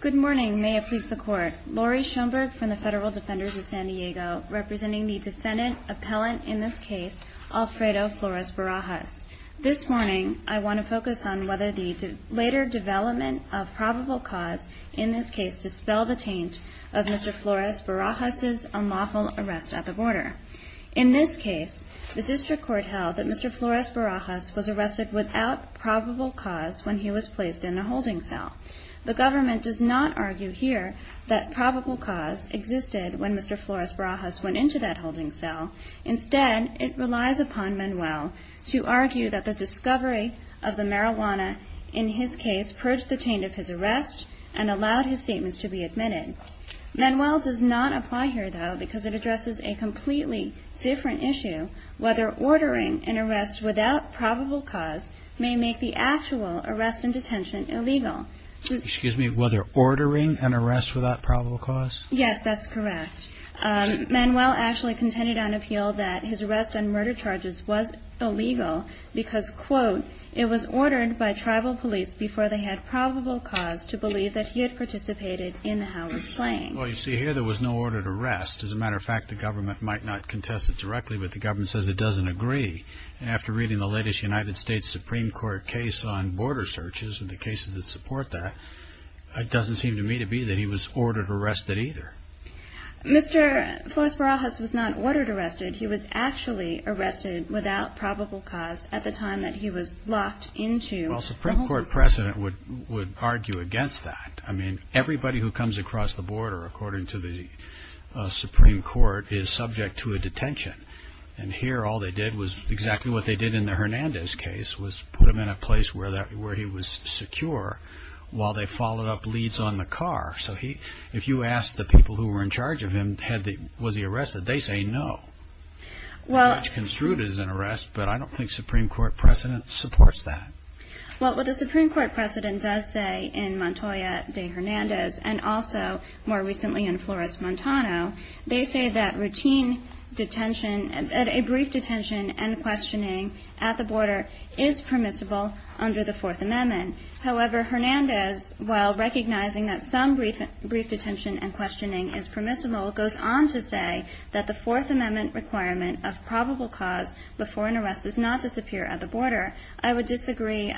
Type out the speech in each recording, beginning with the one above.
Good morning, may it please the Court. Lori Schoenberg from the Federal Defenders of San Diego, representing the defendant-appellant in this case, Alfredo Flores-Barajas. This morning, I want to focus on whether the later development of probable cause in this case dispels the taint of Mr. Flores-Barajas' unlawful arrest at the border. In this case, the district court held that Mr. Flores-Barajas was arrested without probable cause when he was placed in a holding cell. The government does not argue here that probable cause existed when Mr. Flores-Barajas went into that holding cell. Instead, it relies upon Manuel to argue that the discovery of the marijuana in his case purged the taint of his arrest and allowed his statements to be admitted. Manuel does not apply here, though, because it addresses a completely different issue, whether ordering an arrest without probable cause may make the actual arrest and detention illegal. Excuse me, whether ordering an arrest without probable cause? Yes, that's correct. Manuel actually contended on appeal that his arrest on murder charges was illegal because, quote, it was ordered by tribal police before they had probable cause to believe that he had participated in the Howard slaying. Well, you see here there was no ordered arrest. As a matter of fact, the government might not contest it directly, but the government says it doesn't agree. And after reading the latest United States Supreme Court case on border searches and the cases that support that, it doesn't seem to me to be that he was ordered arrested either. Mr. Flores-Barajas was not ordered arrested. He was actually arrested without probable cause at the time that he was locked into the holding cell. Well, a Supreme Court president would argue against that. I mean, everybody who comes across the border, according to the Supreme Court, is subject to a detention. And here all they did was exactly what they did in the Hernandez case, was put him in a place where he was secure while they followed up leads on the car. So if you ask the people who were in charge of him, was he arrested, they say no. Much construed as an arrest, but I don't think Supreme Court precedent supports that. Well, what the Supreme Court precedent does say in Montoya v. Hernandez and also more recently in Flores-Montano, they say that a brief detention and questioning at the border is permissible under the Fourth Amendment. However, Hernandez, while recognizing that some brief detention and questioning is permissible, goes on to say that the Fourth Amendment requirement of probable cause before an arrest does not disappear at the border. I would disagree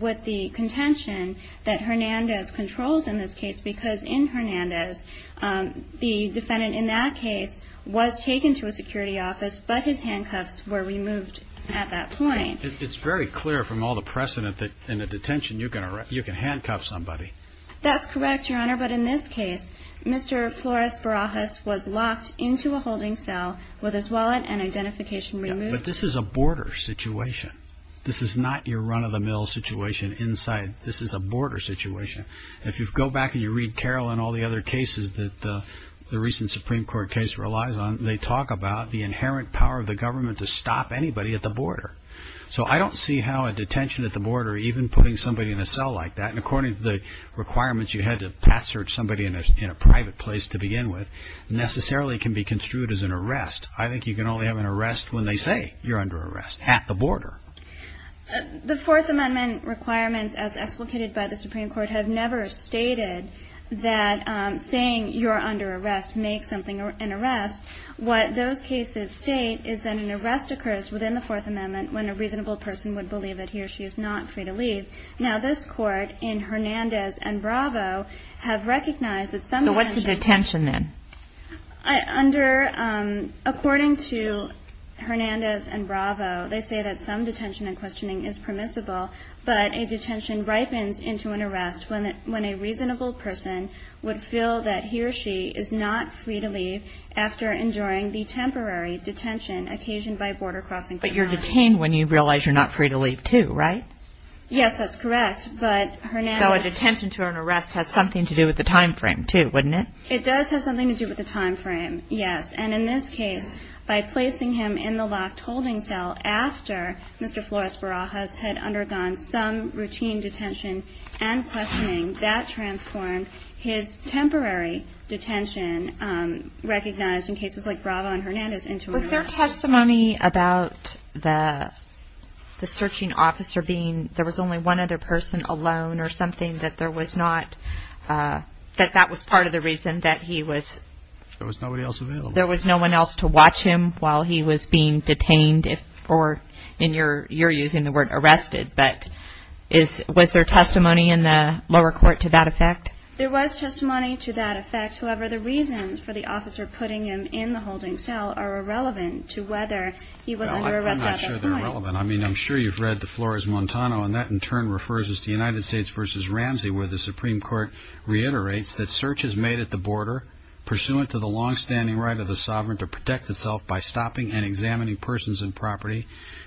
with the contention that Hernandez controls in this case, because in Hernandez, the defendant in that case was taken to a security office, but his handcuffs were removed at that point. It's very clear from all the precedent that in a detention you can handcuff somebody. That's correct, Your Honor. But in this case, Mr. Flores Barajas was locked into a holding cell with his wallet and identification removed. But this is a border situation. This is not your run-of-the-mill situation inside. This is a border situation. If you go back and you read Carroll and all the other cases that the recent Supreme Court case relies on, they talk about the inherent power of the government to stop anybody at the border. So I don't see how a detention at the border, even putting somebody in a cell like that, and according to the requirements you had to pass search somebody in a private place to begin with, necessarily can be construed as an arrest. I think you can only have an arrest when they say you're under arrest at the border. The Fourth Amendment requirements, as explicated by the Supreme Court, have never stated that saying you're under arrest makes something an arrest. What those cases state is that an arrest occurs within the Fourth Amendment when a reasonable person would believe that he or she is not free to leave. Now this court in Hernandez and Bravo have recognized that some detention So what's the detention then? According to Hernandez and Bravo, they say that some detention and questioning is permissible, but a detention ripens into an arrest when a reasonable person would feel that he or she is not free to leave after enduring the temporary detention occasioned by border crossing. But you're detained when you realize you're not free to leave too, right? Yes, that's correct. So a detention to an arrest has something to do with the time frame too, wouldn't it? It does have something to do with the time frame, yes. And in this case, by placing him in the locked holding cell after Mr. Flores Barajas had undergone some routine detention and questioning, that transformed his temporary detention recognized in cases like Bravo and Hernandez into an arrest. Was there testimony about the searching officer being there was only one other person alone or something that there was not, that that was part of the reason that he was There was nobody else available. There was no one else to watch him while he was being detained, or you're using the word arrested, but was there testimony in the lower court to that effect? There was testimony to that effect. However, the reasons for the officer putting him in the holding cell are irrelevant to whether he was under arrest at that point. I'm not sure they're relevant. I mean, I'm sure you've read the Flores-Montano, and that in turn refers us to United States v. Ramsey, where the Supreme Court reiterates that searches made at the border, pursuant to the longstanding right of the sovereign to protect itself by stopping and examining persons and property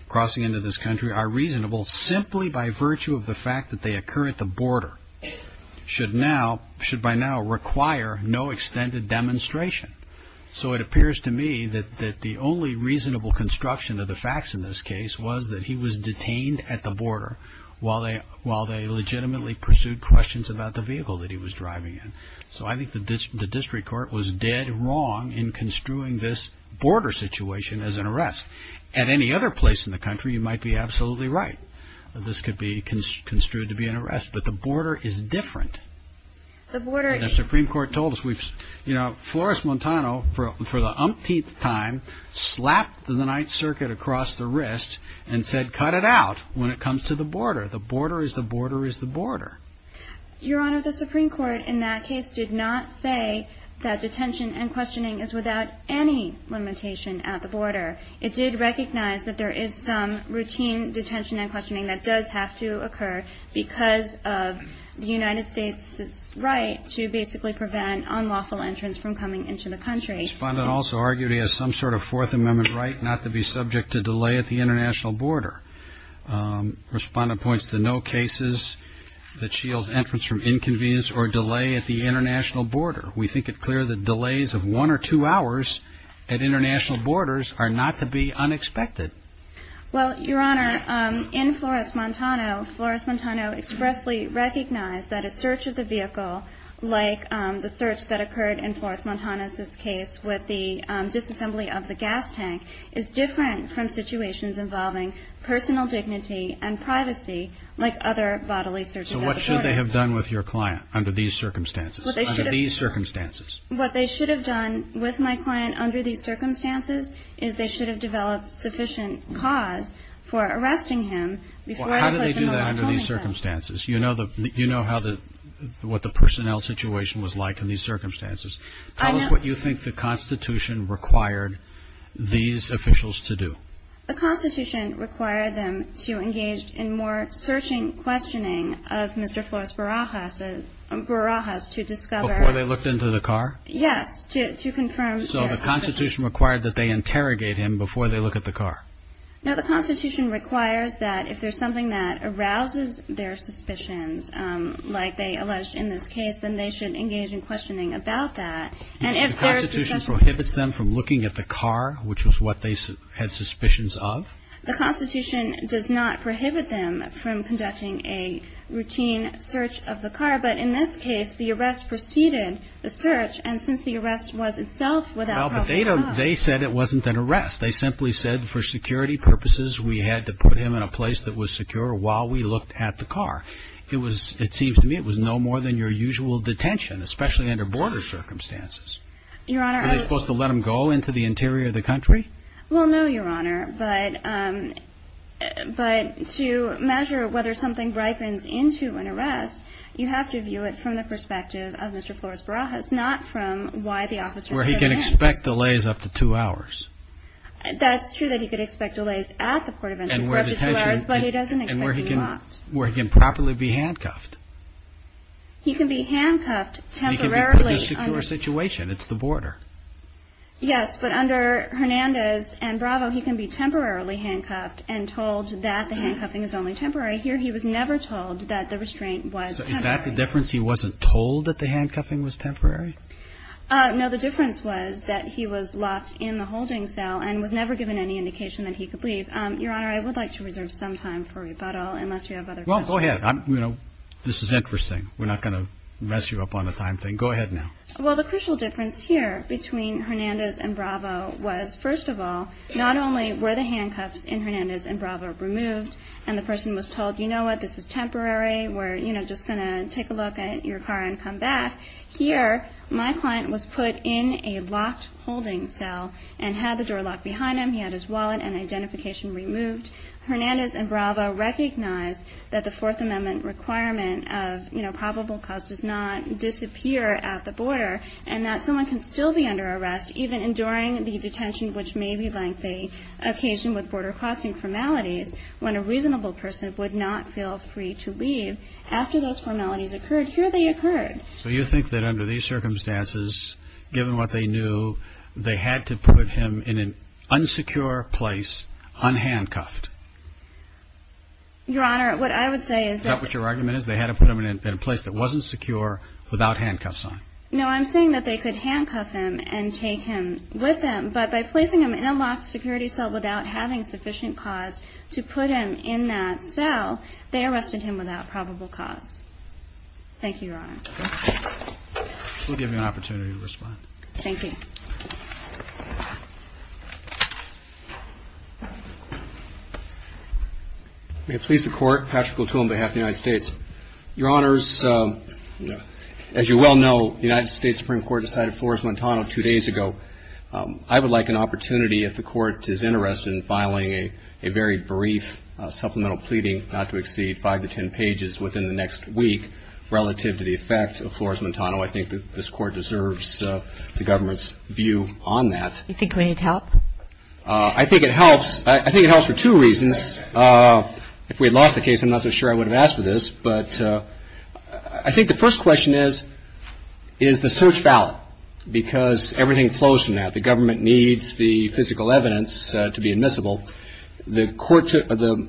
crossing into this country, are reasonable simply by virtue of the fact that they occur at the border, should by now require no extended demonstration. So it appears to me that the only reasonable construction of the facts in this case was that he was detained at the border while they legitimately pursued questions about the vehicle that he was driving in. So I think the district court was dead wrong in construing this border situation as an arrest. At any other place in the country, you might be absolutely right. This could be construed to be an arrest, but the border is different. The Supreme Court told us, you know, Flores-Montano, for the umpteenth time, slapped the Ninth Circuit across the wrist and said, cut it out when it comes to the border. The border is the border is the border. Your Honor, the Supreme Court in that case did not say that detention and questioning is without any limitation at the border. It did recognize that there is some routine detention and questioning that does have to occur because of the United States' right to basically prevent unlawful entrance from coming into the country. Respondent also argued he has some sort of Fourth Amendment right not to be subject to delay at the international border. Respondent points to no cases that shields entrance from inconvenience or delay at the international border. We think it clear that delays of one or two hours at international borders are not to be unexpected. Well, Your Honor, in Flores-Montano, Flores-Montano expressly recognized that a search of the vehicle, like the search that occurred in Flores-Montano's case with the disassembly of the gas tank, is different from situations involving personal dignity and privacy like other bodily searches at the border. So what should they have done with your client under these circumstances, under these circumstances? What they should have done with my client under these circumstances is they should have developed sufficient cause for arresting him. Well, how do they do that under these circumstances? You know what the personnel situation was like in these circumstances. Tell us what you think the Constitution required these officials to do. The Constitution required them to engage in more searching, questioning of Mr. Flores-Barajas to discover – Before they looked into the car? Yes, to confirm – So the Constitution required that they interrogate him before they look at the car. No, the Constitution requires that if there's something that arouses their suspicions, like they alleged in this case, then they should engage in questioning about that. And if there's – The Constitution prohibits them from looking at the car, which was what they had suspicions of? The Constitution does not prohibit them from conducting a routine search of the car. But in this case, the arrest preceded the search. And since the arrest was itself without – Well, but they said it wasn't an arrest. They simply said for security purposes, we had to put him in a place that was secure while we looked at the car. It was – it seems to me it was no more than your usual detention, especially under border circumstances. Your Honor – Were they supposed to let him go into the interior of the country? Well, no, Your Honor, but to measure whether something ripens into an arrest, you have to view it from the perspective of Mr. Flores-Barajas, not from why the officer – Where he can expect delays up to two hours. That's true that he could expect delays at the port of entry for up to two hours, but he doesn't expect to be locked. And where he can properly be handcuffed. He can be handcuffed temporarily – He can be put in a secure situation. It's the border. Yes, but under Hernandez and Bravo, he can be temporarily handcuffed and told that the handcuffing is only temporary. Here, he was never told that the restraint was temporary. So is that the difference? He wasn't told that the handcuffing was temporary? No, the difference was that he was locked in the holding cell and was never given any indication that he could leave. Your Honor, I would like to reserve some time for rebuttal unless you have other questions. Well, go ahead. This is interesting. We're not going to mess you up on a time thing. Go ahead now. Well, the crucial difference here between Hernandez and Bravo was, first of all, not only were the handcuffs in Hernandez and Bravo removed and the person was told, you know what, this is temporary, we're just going to take a look at your car and come back. Here, my client was put in a locked holding cell and had the door locked behind him. He had his wallet and identification removed. Hernandez and Bravo recognized that the Fourth Amendment requirement of, you know, probable cause does not disappear at the border and that someone can still be under arrest, even enduring the detention, which may be a lengthy occasion with border crossing formalities, when a reasonable person would not feel free to leave. After those formalities occurred, here they occurred. So you think that under these circumstances, given what they knew, they had to put him in an unsecure place unhandcuffed? Your Honor, what I would say is that... Is that what your argument is? They had to put him in a place that wasn't secure without handcuffs on? No, I'm saying that they could handcuff him and take him with them, but by placing him in a locked security cell without having sufficient cause to put him in that cell, they arrested him without probable cause. Thank you, Your Honor. We'll give you an opportunity to respond. Thank you. May it please the Court, Patrick O'Toole on behalf of the United States. Your Honors, as you well know, the United States Supreme Court decided Flores-Montano two days ago. I would like an opportunity, if the Court is interested in filing a very brief supplemental pleading, not to exceed five to ten pages within the next week relative to the effect of Flores-Montano, I think that this Court deserves the government's view on that. You think we need help? I think it helps. I think it helps for two reasons. If we had lost the case, I'm not so sure I would have asked for this. But I think the first question is, is the search valid? Because everything flows from that. The government needs the physical evidence to be admissible. The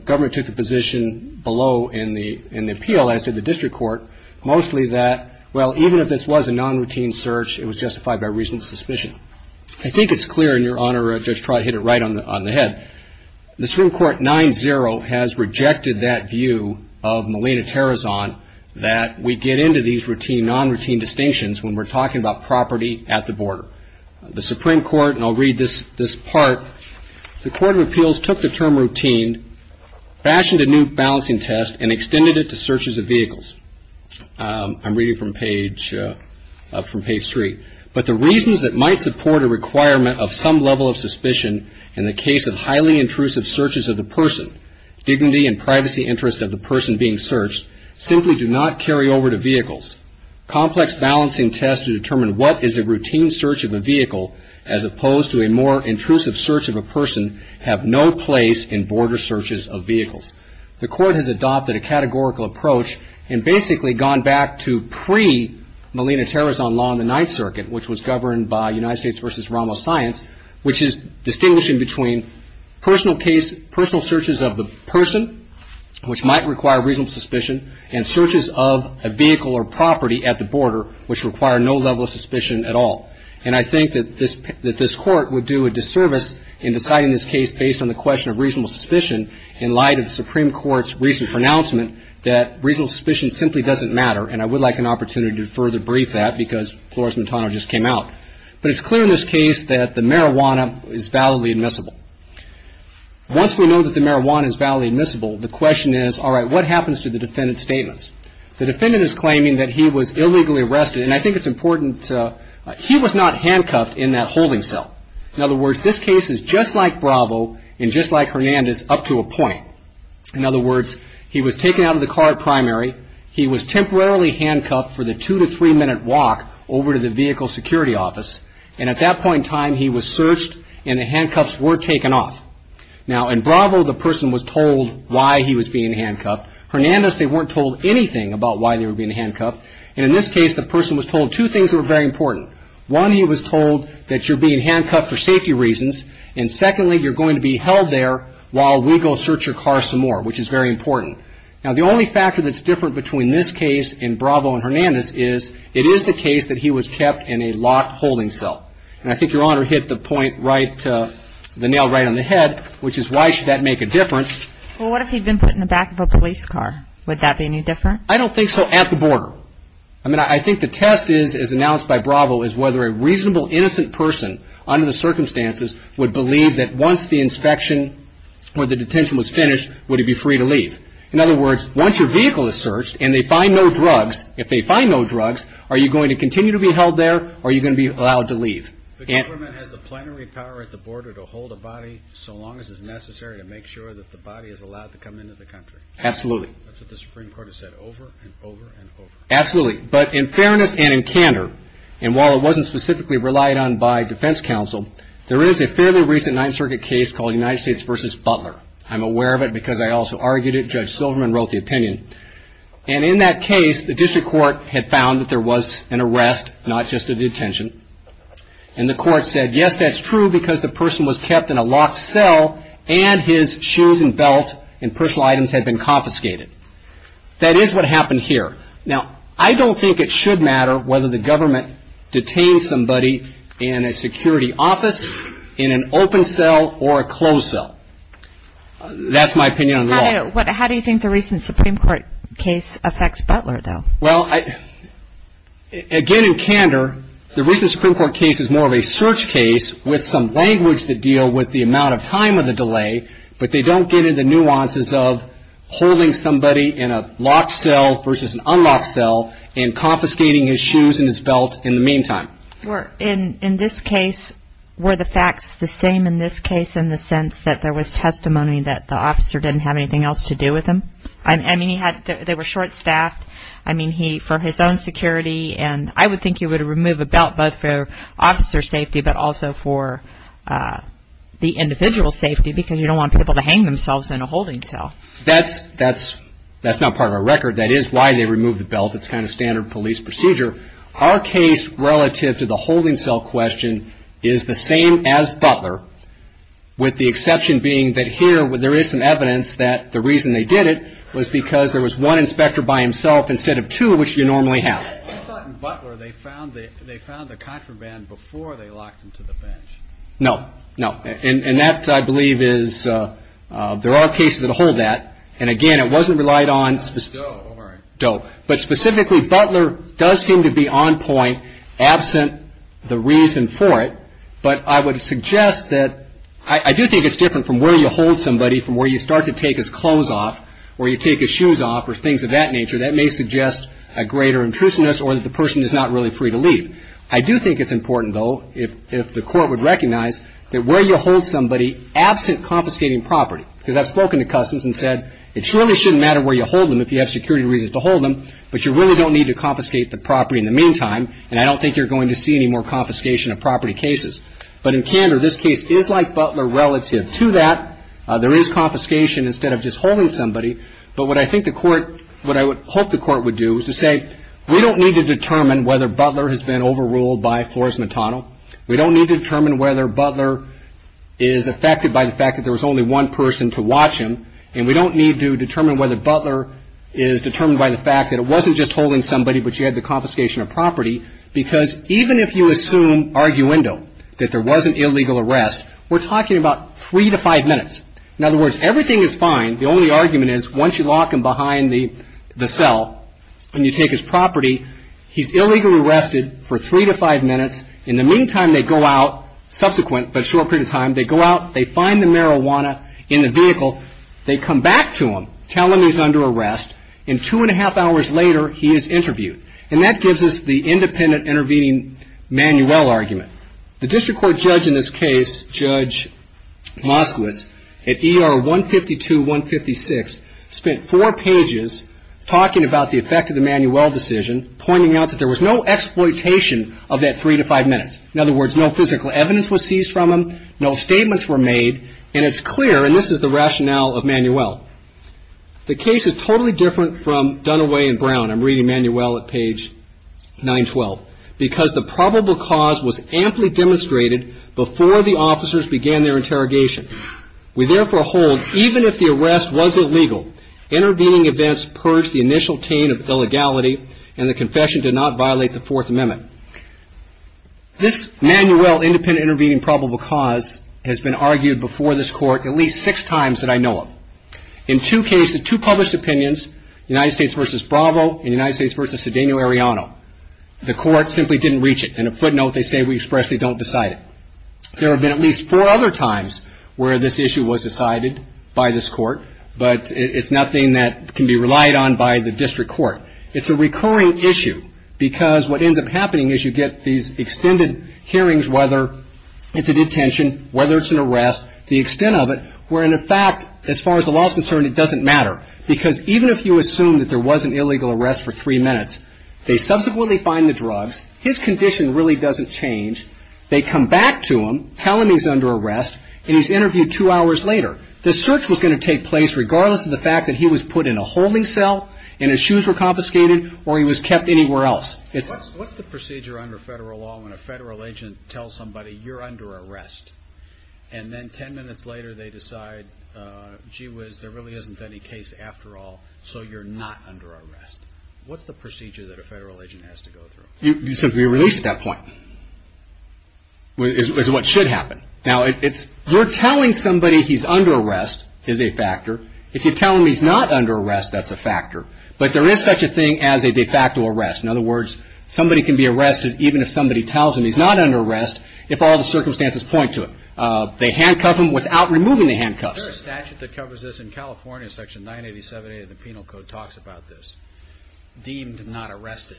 government took the position below in the appeal, as did the district court, mostly that, well, even if this was a non-routine search, it was justified by reason of suspicion. I think it's clear, and, Your Honor, Judge Trott hit it right on the head. The Supreme Court 9-0 has rejected that view of Molina-Terrazon that we get into these non-routine distinctions when we're talking about property at the border. The Supreme Court, and I'll read this part. The Court of Appeals took the term routine, fashioned a new balancing test, and extended it to searches of vehicles. I'm reading from page 3. But the reasons that might support a requirement of some level of suspicion in the case of highly intrusive searches of the person, dignity and privacy interest of the person being searched, simply do not carry over to vehicles. Complex balancing tests to determine what is a routine search of a vehicle, as opposed to a more intrusive search of a person, have no place in border searches of vehicles. The Court has adopted a categorical approach and basically gone back to pre-Molina-Terrazon law in the Ninth Circuit, which was governed by United States v. Rommel Science, which is distinguishing between personal searches of the person, which might require reasonable suspicion, and searches of a vehicle or property at the border, which require no level of suspicion at all. And I think that this Court would do a disservice in deciding this case based on the question of reasonable suspicion in light of the Supreme Court's recent pronouncement that reasonable suspicion simply doesn't matter, and I would like an opportunity to further brief that because Flores-Montano just came out. But it's clear in this case that the marijuana is validly admissible. Once we know that the marijuana is validly admissible, the question is, all right, what happens to the defendant's statements? The defendant is claiming that he was illegally arrested. And I think it's important. He was not handcuffed in that holding cell. In other words, this case is just like Bravo and just like Hernandez up to a point. In other words, he was taken out of the car at primary. He was temporarily handcuffed for the two- to three-minute walk over to the vehicle security office. And at that point in time, he was searched and the handcuffs were taken off. Now, in Bravo, the person was told why he was being handcuffed. Hernandez, they weren't told anything about why they were being handcuffed. And in this case, the person was told two things that were very important. One, he was told that you're being handcuffed for safety reasons. And secondly, you're going to be held there while we go search your car some more, which is very important. Now, the only factor that's different between this case and Bravo and Hernandez is it is the case that he was kept in a locked holding cell. And I think Your Honor hit the point right to the nail right on the head, which is why should that make a difference? Well, what if he'd been put in the back of a police car? Would that be any different? I don't think so, at the border. I mean, I think the test is, as announced by Bravo, is whether a reasonable, innocent person, under the circumstances, would believe that once the inspection or the detention was finished, would he be free to leave. In other words, once your vehicle is searched and they find no drugs, if they find no drugs, are you going to continue to be held there or are you going to be allowed to leave? The government has the plenary power at the border to hold a body so long as it's necessary to make sure that the body is allowed to come into the country. Absolutely. That's what the Supreme Court has said over and over and over. Absolutely. But in fairness and in candor, and while it wasn't specifically relied on by defense counsel, there is a fairly recent Ninth Circuit case called United States v. Butler. I'm aware of it because I also argued it. Judge Silverman wrote the opinion. And in that case, the district court had found that there was an arrest, not just a detention. And the court said, yes, that's true because the person was kept in a locked cell and his shoes and belt and personal items had been confiscated. That is what happened here. Now, I don't think it should matter whether the government detains somebody in a security office, in an open cell, or a closed cell. That's my opinion on the law. How do you think the recent Supreme Court case affects Butler, though? Well, again, in candor, the recent Supreme Court case is more of a search case with some language that deal with the amount of time of the delay, but they don't get into nuances of holding somebody in a locked cell versus an unlocked cell and confiscating his shoes and his belt in the meantime. In this case, were the facts the same in this case in the sense that there was testimony that the officer didn't have anything else to do with him? I mean, they were short-staffed. I mean, for his own security, and I would think you would remove a belt both for officer safety but also for the individual's safety because you don't want people to hang themselves in a holding cell. That's not part of our record. That is why they removed the belt. It's kind of standard police procedure. With the exception being that here there is some evidence that the reason they did it was because there was one inspector by himself instead of two, which you normally have. I thought in Butler they found the contraband before they locked him to the bench. No. No. And that, I believe, is there are cases that hold that. And, again, it wasn't relied on. Doe. Doe. But specifically, Butler does seem to be on point absent the reason for it. But I would suggest that I do think it's different from where you hold somebody from where you start to take his clothes off or you take his shoes off or things of that nature. That may suggest a greater intrusiveness or that the person is not really free to leave. I do think it's important, though, if the court would recognize that where you hold somebody absent confiscating property because I've spoken to customs and said it surely shouldn't matter where you hold them if you have security reasons to hold them, but you really don't need to confiscate the property in the meantime, and I don't think you're going to see any more confiscation of property cases. But in candor, this case is like Butler relative to that. There is confiscation instead of just holding somebody. But what I think the court what I would hope the court would do is to say we don't need to determine whether Butler has been overruled by Flores Matano. We don't need to determine whether Butler is affected by the fact that there was only one person to watch him, and we don't need to determine whether Butler is determined by the fact that it wasn't just holding somebody but you had the confiscation of property because even if you assume arguendo that there was an illegal arrest, we're talking about three to five minutes. In other words, everything is fine. The only argument is once you lock him behind the cell and you take his property, he's illegally arrested for three to five minutes. In the meantime, they go out subsequent but a short period of time. They go out. They find the marijuana in the vehicle. They come back to him, tell him he's under arrest. And two and a half hours later, he is interviewed. And that gives us the independent intervening Manuel argument. The district court judge in this case, Judge Moskowitz, at ER 152-156, spent four pages talking about the effect of the Manuel decision, pointing out that there was no exploitation of that three to five minutes. In other words, no physical evidence was seized from him. No statements were made. And it's clear, and this is the rationale of Manuel, the case is totally different from Dunaway and Brown. I'm reading Manuel at page 912. Because the probable cause was amply demonstrated before the officers began their interrogation. We therefore hold, even if the arrest was illegal, intervening events purged the initial taint of illegality and the confession did not violate the Fourth Amendment. This Manuel independent intervening probable cause has been argued before this court at least six times that I know of. In two cases, two published opinions, United States v. Bravo and United States v. Sedeno-Ariano, the court simply didn't reach it. In a footnote, they say we expressly don't decide it. There have been at least four other times where this issue was decided by this court, but it's nothing that can be relied on by the district court. It's a recurring issue because what ends up happening is you get these extended hearings, whether it's a detention, whether it's an arrest, the extent of it, where, in fact, as far as the law is concerned, it doesn't matter. Because even if you assume that there was an illegal arrest for three minutes, they subsequently find the drugs, his condition really doesn't change, they come back to him, tell him he's under arrest, and he's interviewed two hours later. The search was going to take place regardless of the fact that he was put in a holding cell and his shoes were confiscated or he was kept anywhere else. What's the procedure under federal law when a federal agent tells somebody you're under arrest? And then ten minutes later they decide, gee whiz, there really isn't any case after all, so you're not under arrest. What's the procedure that a federal agent has to go through? You're released at that point, is what should happen. Now, you're telling somebody he's under arrest is a factor. If you tell him he's not under arrest, that's a factor. But there is such a thing as a de facto arrest. In other words, somebody can be arrested even if somebody tells him he's not under arrest if all the circumstances point to it. They handcuff him without removing the handcuffs. There's a statute that covers this in California, Section 987A of the Penal Code, talks about this, deemed not arrested.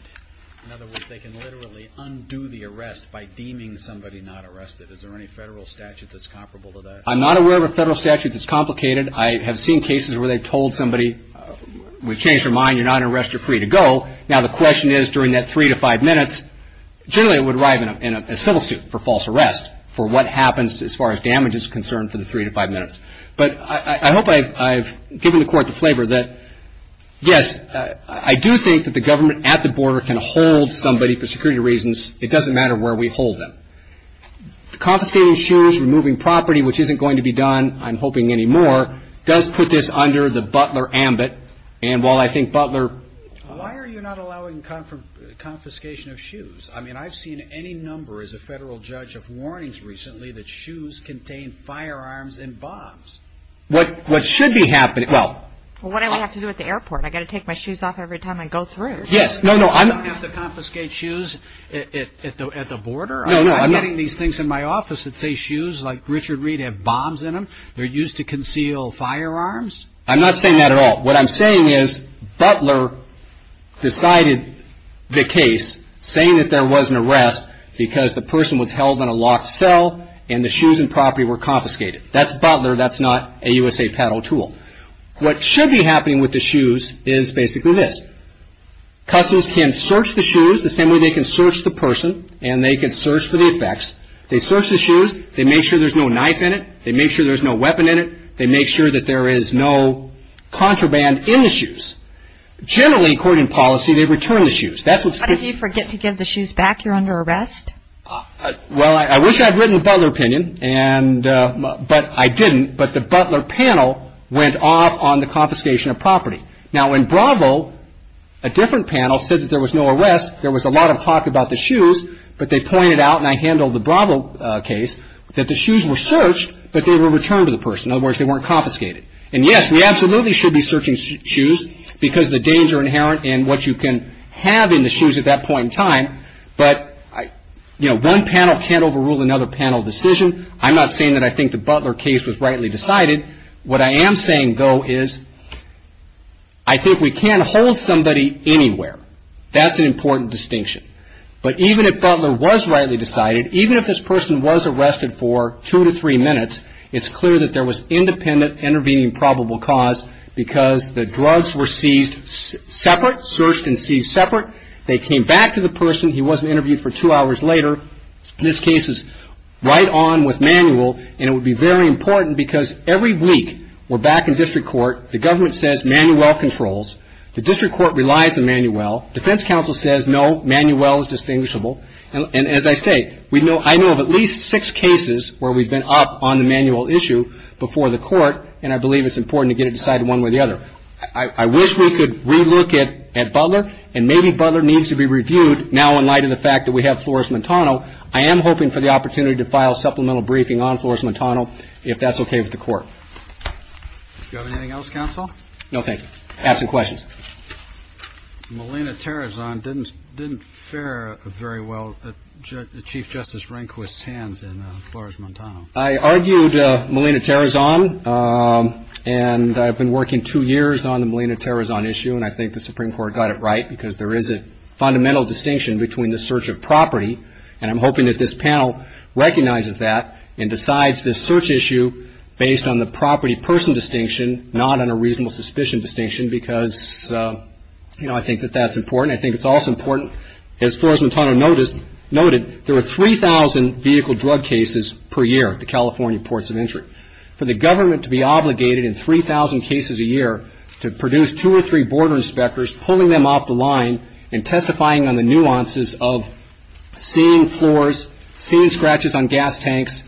In other words, they can literally undo the arrest by deeming somebody not arrested. Is there any federal statute that's comparable to that? I'm not aware of a federal statute that's complicated. I have seen cases where they've told somebody, we've changed our mind, you're not under arrest, you're free to go. Now, the question is during that three to five minutes, generally it would arrive in a civil suit for false arrest for what happens as far as damage is concerned for the three to five minutes. But I hope I've given the Court the flavor that, yes, I do think that the government at the border can hold somebody for security reasons. It doesn't matter where we hold them. Confiscating shoes, removing property, which isn't going to be done, I'm hoping, anymore, does put this under the Butler ambit. And while I think Butler... Why are you not allowing confiscation of shoes? I mean, I've seen any number as a federal judge of warnings recently that shoes contain firearms and bombs. What should be happening, well... Well, what do I have to do at the airport? I've got to take my shoes off every time I go through. Yes, no, no, I'm... I don't have to confiscate shoes at the border. No, no, I'm... I'm getting these things in my office that say shoes like Richard Reed have bombs in them. They're used to conceal firearms. I'm not saying that at all. What I'm saying is Butler decided the case, saying that there was an arrest, because the person was held in a locked cell and the shoes and property were confiscated. That's Butler. That's not a USA Paddle tool. What should be happening with the shoes is basically this. Customers can search the shoes the same way they can search the person, and they can search for the effects. They search the shoes. They make sure there's no knife in it. They make sure there's no weapon in it. They make sure that there is no contraband in the shoes. Generally, according to policy, they return the shoes. That's what's... But if you forget to give the shoes back, you're under arrest? Well, I wish I had written a Butler opinion, but I didn't. But the Butler panel went off on the confiscation of property. Now, in Bravo, a different panel said that there was no arrest. There was a lot of talk about the shoes, but they pointed out, and I handled the Bravo case, that the shoes were searched, but they were returned to the person. In other words, they weren't confiscated. And, yes, we absolutely should be searching shoes because the danger inherent in what you can have in the shoes at that point in time. But, you know, one panel can't overrule another panel decision. I'm not saying that I think the Butler case was rightly decided. What I am saying, though, is I think we can't hold somebody anywhere. That's an important distinction. But even if Butler was rightly decided, even if this person was arrested for two to three minutes, it's clear that there was independent intervening probable cause because the drugs were seized separate, searched and seized separate. They came back to the person. He wasn't interviewed for two hours later. This case is right on with Manuel, and it would be very important because every week we're back in district court. The government says Manuel controls. The district court relies on Manuel. Defense counsel says, no, Manuel is distinguishable. And as I say, I know of at least six cases where we've been up on the Manuel issue before the court, and I believe it's important to get it decided one way or the other. I wish we could relook at Butler, and maybe Butler needs to be reviewed now in light of the fact that we have Flores-Montano. I am hoping for the opportunity to file a supplemental briefing on Flores-Montano if that's okay with the court. Do you have anything else, counsel? No, thank you. I have some questions. Melina Terrazon didn't fare very well at Chief Justice Rehnquist's hands in Flores-Montano. I argued Melina Terrazon, and I've been working two years on the Melina Terrazon issue, and I think the Supreme Court got it right because there is a fundamental distinction between the search of property, and I'm hoping that this panel recognizes that and decides this search issue based on the property-person distinction, not on a reasonable suspicion distinction because, you know, I think that that's important. I think it's also important, as Flores-Montano noted, there are 3,000 vehicle drug cases per year at the California ports of entry. For the government to be obligated in 3,000 cases a year to produce two or three border inspectors, pulling them off the line and testifying on the nuances of seeing floors, seeing scratches on gas tanks,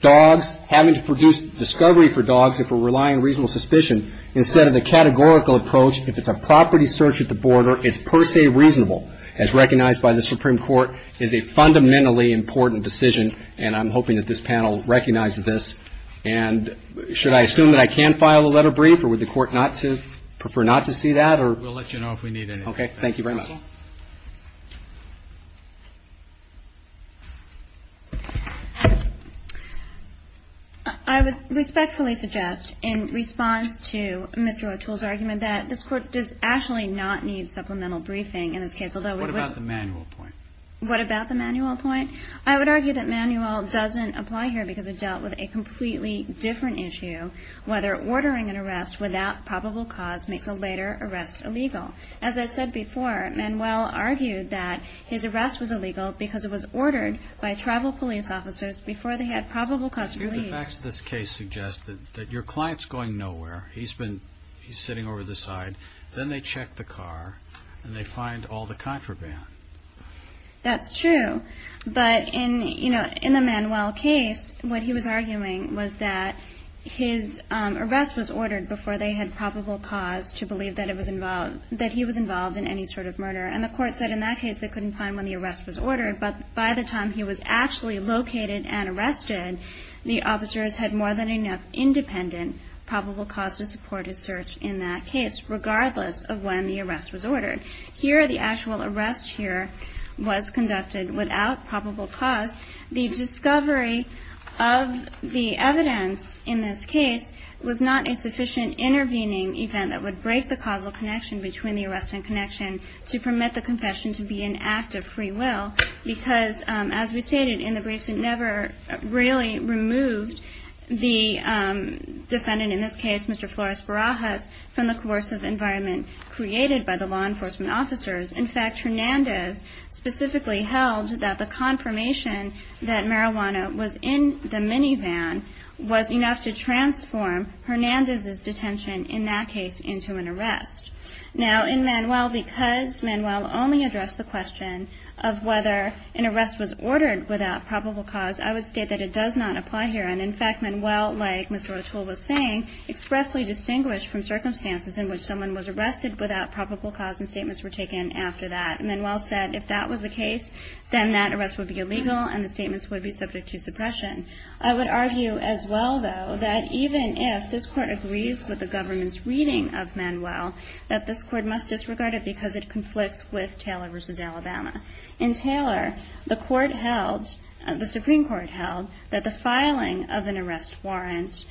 dogs, having to produce discovery for dogs if we're relying on reasonable suspicion, instead of the categorical approach, if it's a property search at the border, it's per se reasonable, as recognized by the Supreme Court, is a fundamentally important decision, and I'm hoping that this panel recognizes this. And should I assume that I can file a letter brief, or would the Court prefer not to see that? We'll let you know if we need anything. Okay. Thank you very much. I would respectfully suggest, in response to Mr. O'Toole's argument, that this Court does actually not need supplemental briefing in this case. What about the manual point? What about the manual point? I would argue that manual doesn't apply here because it dealt with a completely different issue, whether ordering an arrest without probable cause makes a later arrest illegal. As I said before, Manuel argued that his arrest was illegal because it was ordered by tribal police officers before they had probable cause to believe. The facts of this case suggest that your client's going nowhere. He's sitting over to the side. Then they check the car, and they find all the contraband. That's true. But in the Manuel case, what he was arguing was that his arrest was ordered before they had probable cause to believe that he was involved in any sort of murder. And the Court said in that case they couldn't find when the arrest was ordered, but by the time he was actually located and arrested, the officers had more than enough independent probable cause to support his search in that case, regardless of when the arrest was ordered. Here, the actual arrest here was conducted without probable cause. The discovery of the evidence in this case was not a sufficient intervening event that would break the causal connection between the arrest and connection to permit the confession to be an act of free will because, as we stated in the briefs, it never really removed the defendant, in this case Mr. Flores Barajas, from the coercive environment created by the law enforcement officers. In fact, Hernandez specifically held that the confirmation that marijuana was in the minivan was enough to transform Hernandez's detention in that case into an arrest. Now, in Manuel, because Manuel only addressed the question of whether an arrest was ordered without probable cause, I would state that it does not apply here. And, in fact, Manuel, like Ms. Rotul was saying, expressly distinguished from circumstances in which someone was arrested without probable cause and statements were taken after that. Manuel said if that was the case, then that arrest would be illegal and the statements would be subject to suppression. I would argue as well, though, that even if this Court agrees with the government's reading of Manuel, that this Court must disregard it because it conflicts with Taylor v. Alabama. In Taylor, the Supreme Court held that the filing of an arrest warrant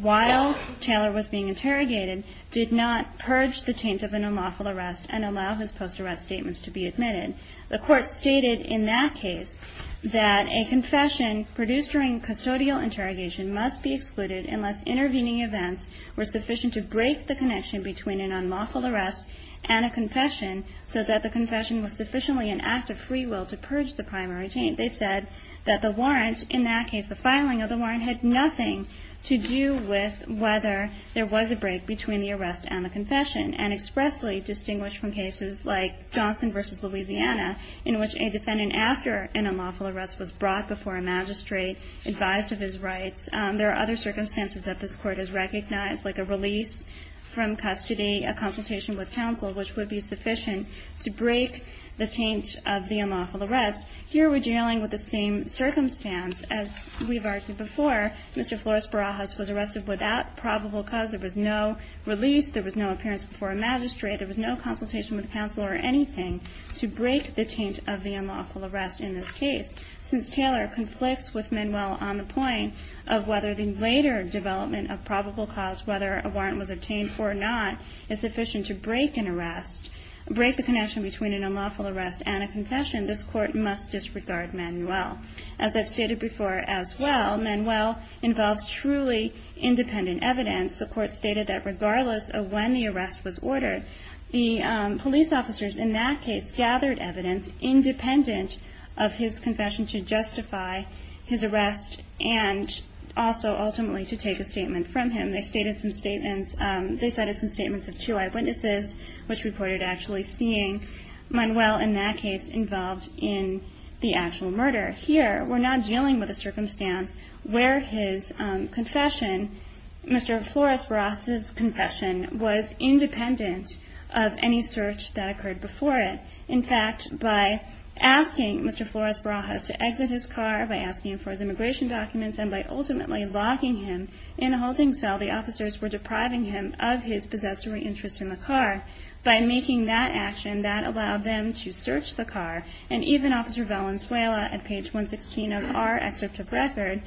while Taylor was being interrogated did not purge the taint of an unlawful arrest and allow his post-arrest statements to be admitted. The Court stated in that case that a confession produced during custodial interrogation must be excluded unless intervening events were sufficient to break the connection between an unlawful arrest and a confession so that the confession was sufficiently an act of free will to purge the primary taint. They said that the warrant in that case, the filing of the warrant, had nothing to do with whether there was a break between the arrest and the confession and expressly distinguished from cases like Johnson v. Louisiana in which a defendant after an unlawful arrest was brought before a magistrate advised of his rights. There are other circumstances that this Court has recognized, like a release from custody, a consultation with counsel, which would be sufficient to break the taint of the unlawful arrest. Here we're dealing with the same circumstance. As we've argued before, Mr. Flores-Barajas was arrested without probable cause. There was no release. There was no appearance before a magistrate. There was no consultation with counsel or anything to break the taint of the unlawful arrest in this case. Since Taylor conflicts with Manuel on the point of whether the later development of probable cause, whether a warrant was obtained or not, is sufficient to break an arrest, break the connection between an unlawful arrest and a confession, this Court must disregard Manuel. As I've stated before as well, Manuel involves truly independent evidence. The Court stated that regardless of when the arrest was ordered, the police officers in that case gathered evidence independent of his confession to justify his arrest and also ultimately to take a statement from him. They stated some statements. They cited some statements of two eyewitnesses, which reported actually seeing Manuel in that case involved in the actual murder. Here we're not dealing with a circumstance where his confession, Mr. Flores-Barajas' confession, was independent of any search that occurred before it. In fact, by asking Mr. Flores-Barajas to exit his car, by asking him for his immigration documents, and by ultimately locking him in a holding cell, the officers were depriving him of his possessory interest in the car. By making that action, that allowed them to search the car, and even Officer Valenzuela, at page 116 of our excerpt of record,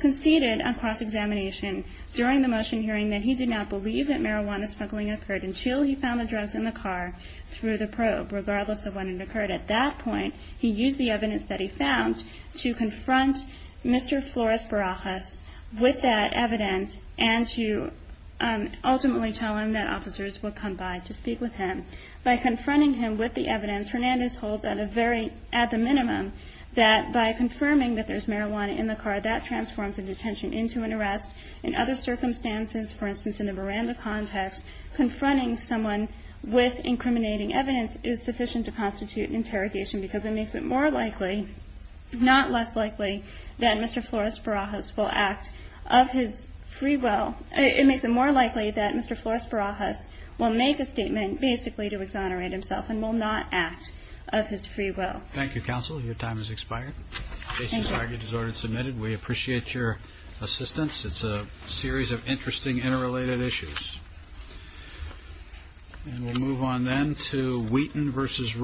conceded on cross-examination during the motion hearing that he did not believe that marijuana smuggling occurred until he found the drugs in the car through the probe, regardless of when it occurred. At that point, he used the evidence that he found to confront Mr. Flores-Barajas with that evidence and to ultimately tell him that officers would come by to speak with him. By confronting him with the evidence, Hernandez holds at the minimum that by confirming that there's marijuana in the car, that transforms a detention into an arrest. In other circumstances, for instance in the Miranda context, confronting someone with incriminating evidence is sufficient to constitute an interrogation because it makes it more likely, not less likely, that Mr. Flores-Barajas will act of his free will. It makes it more likely that Mr. Flores-Barajas will make a statement basically to exonerate himself and will not act of his free will. Thank you, Counsel. Your time has expired. Thank you. The case is argued as ordered and submitted. We appreciate your assistance. It's a series of interesting interrelated issues. And we'll move on then to Wheaton v. Rowe.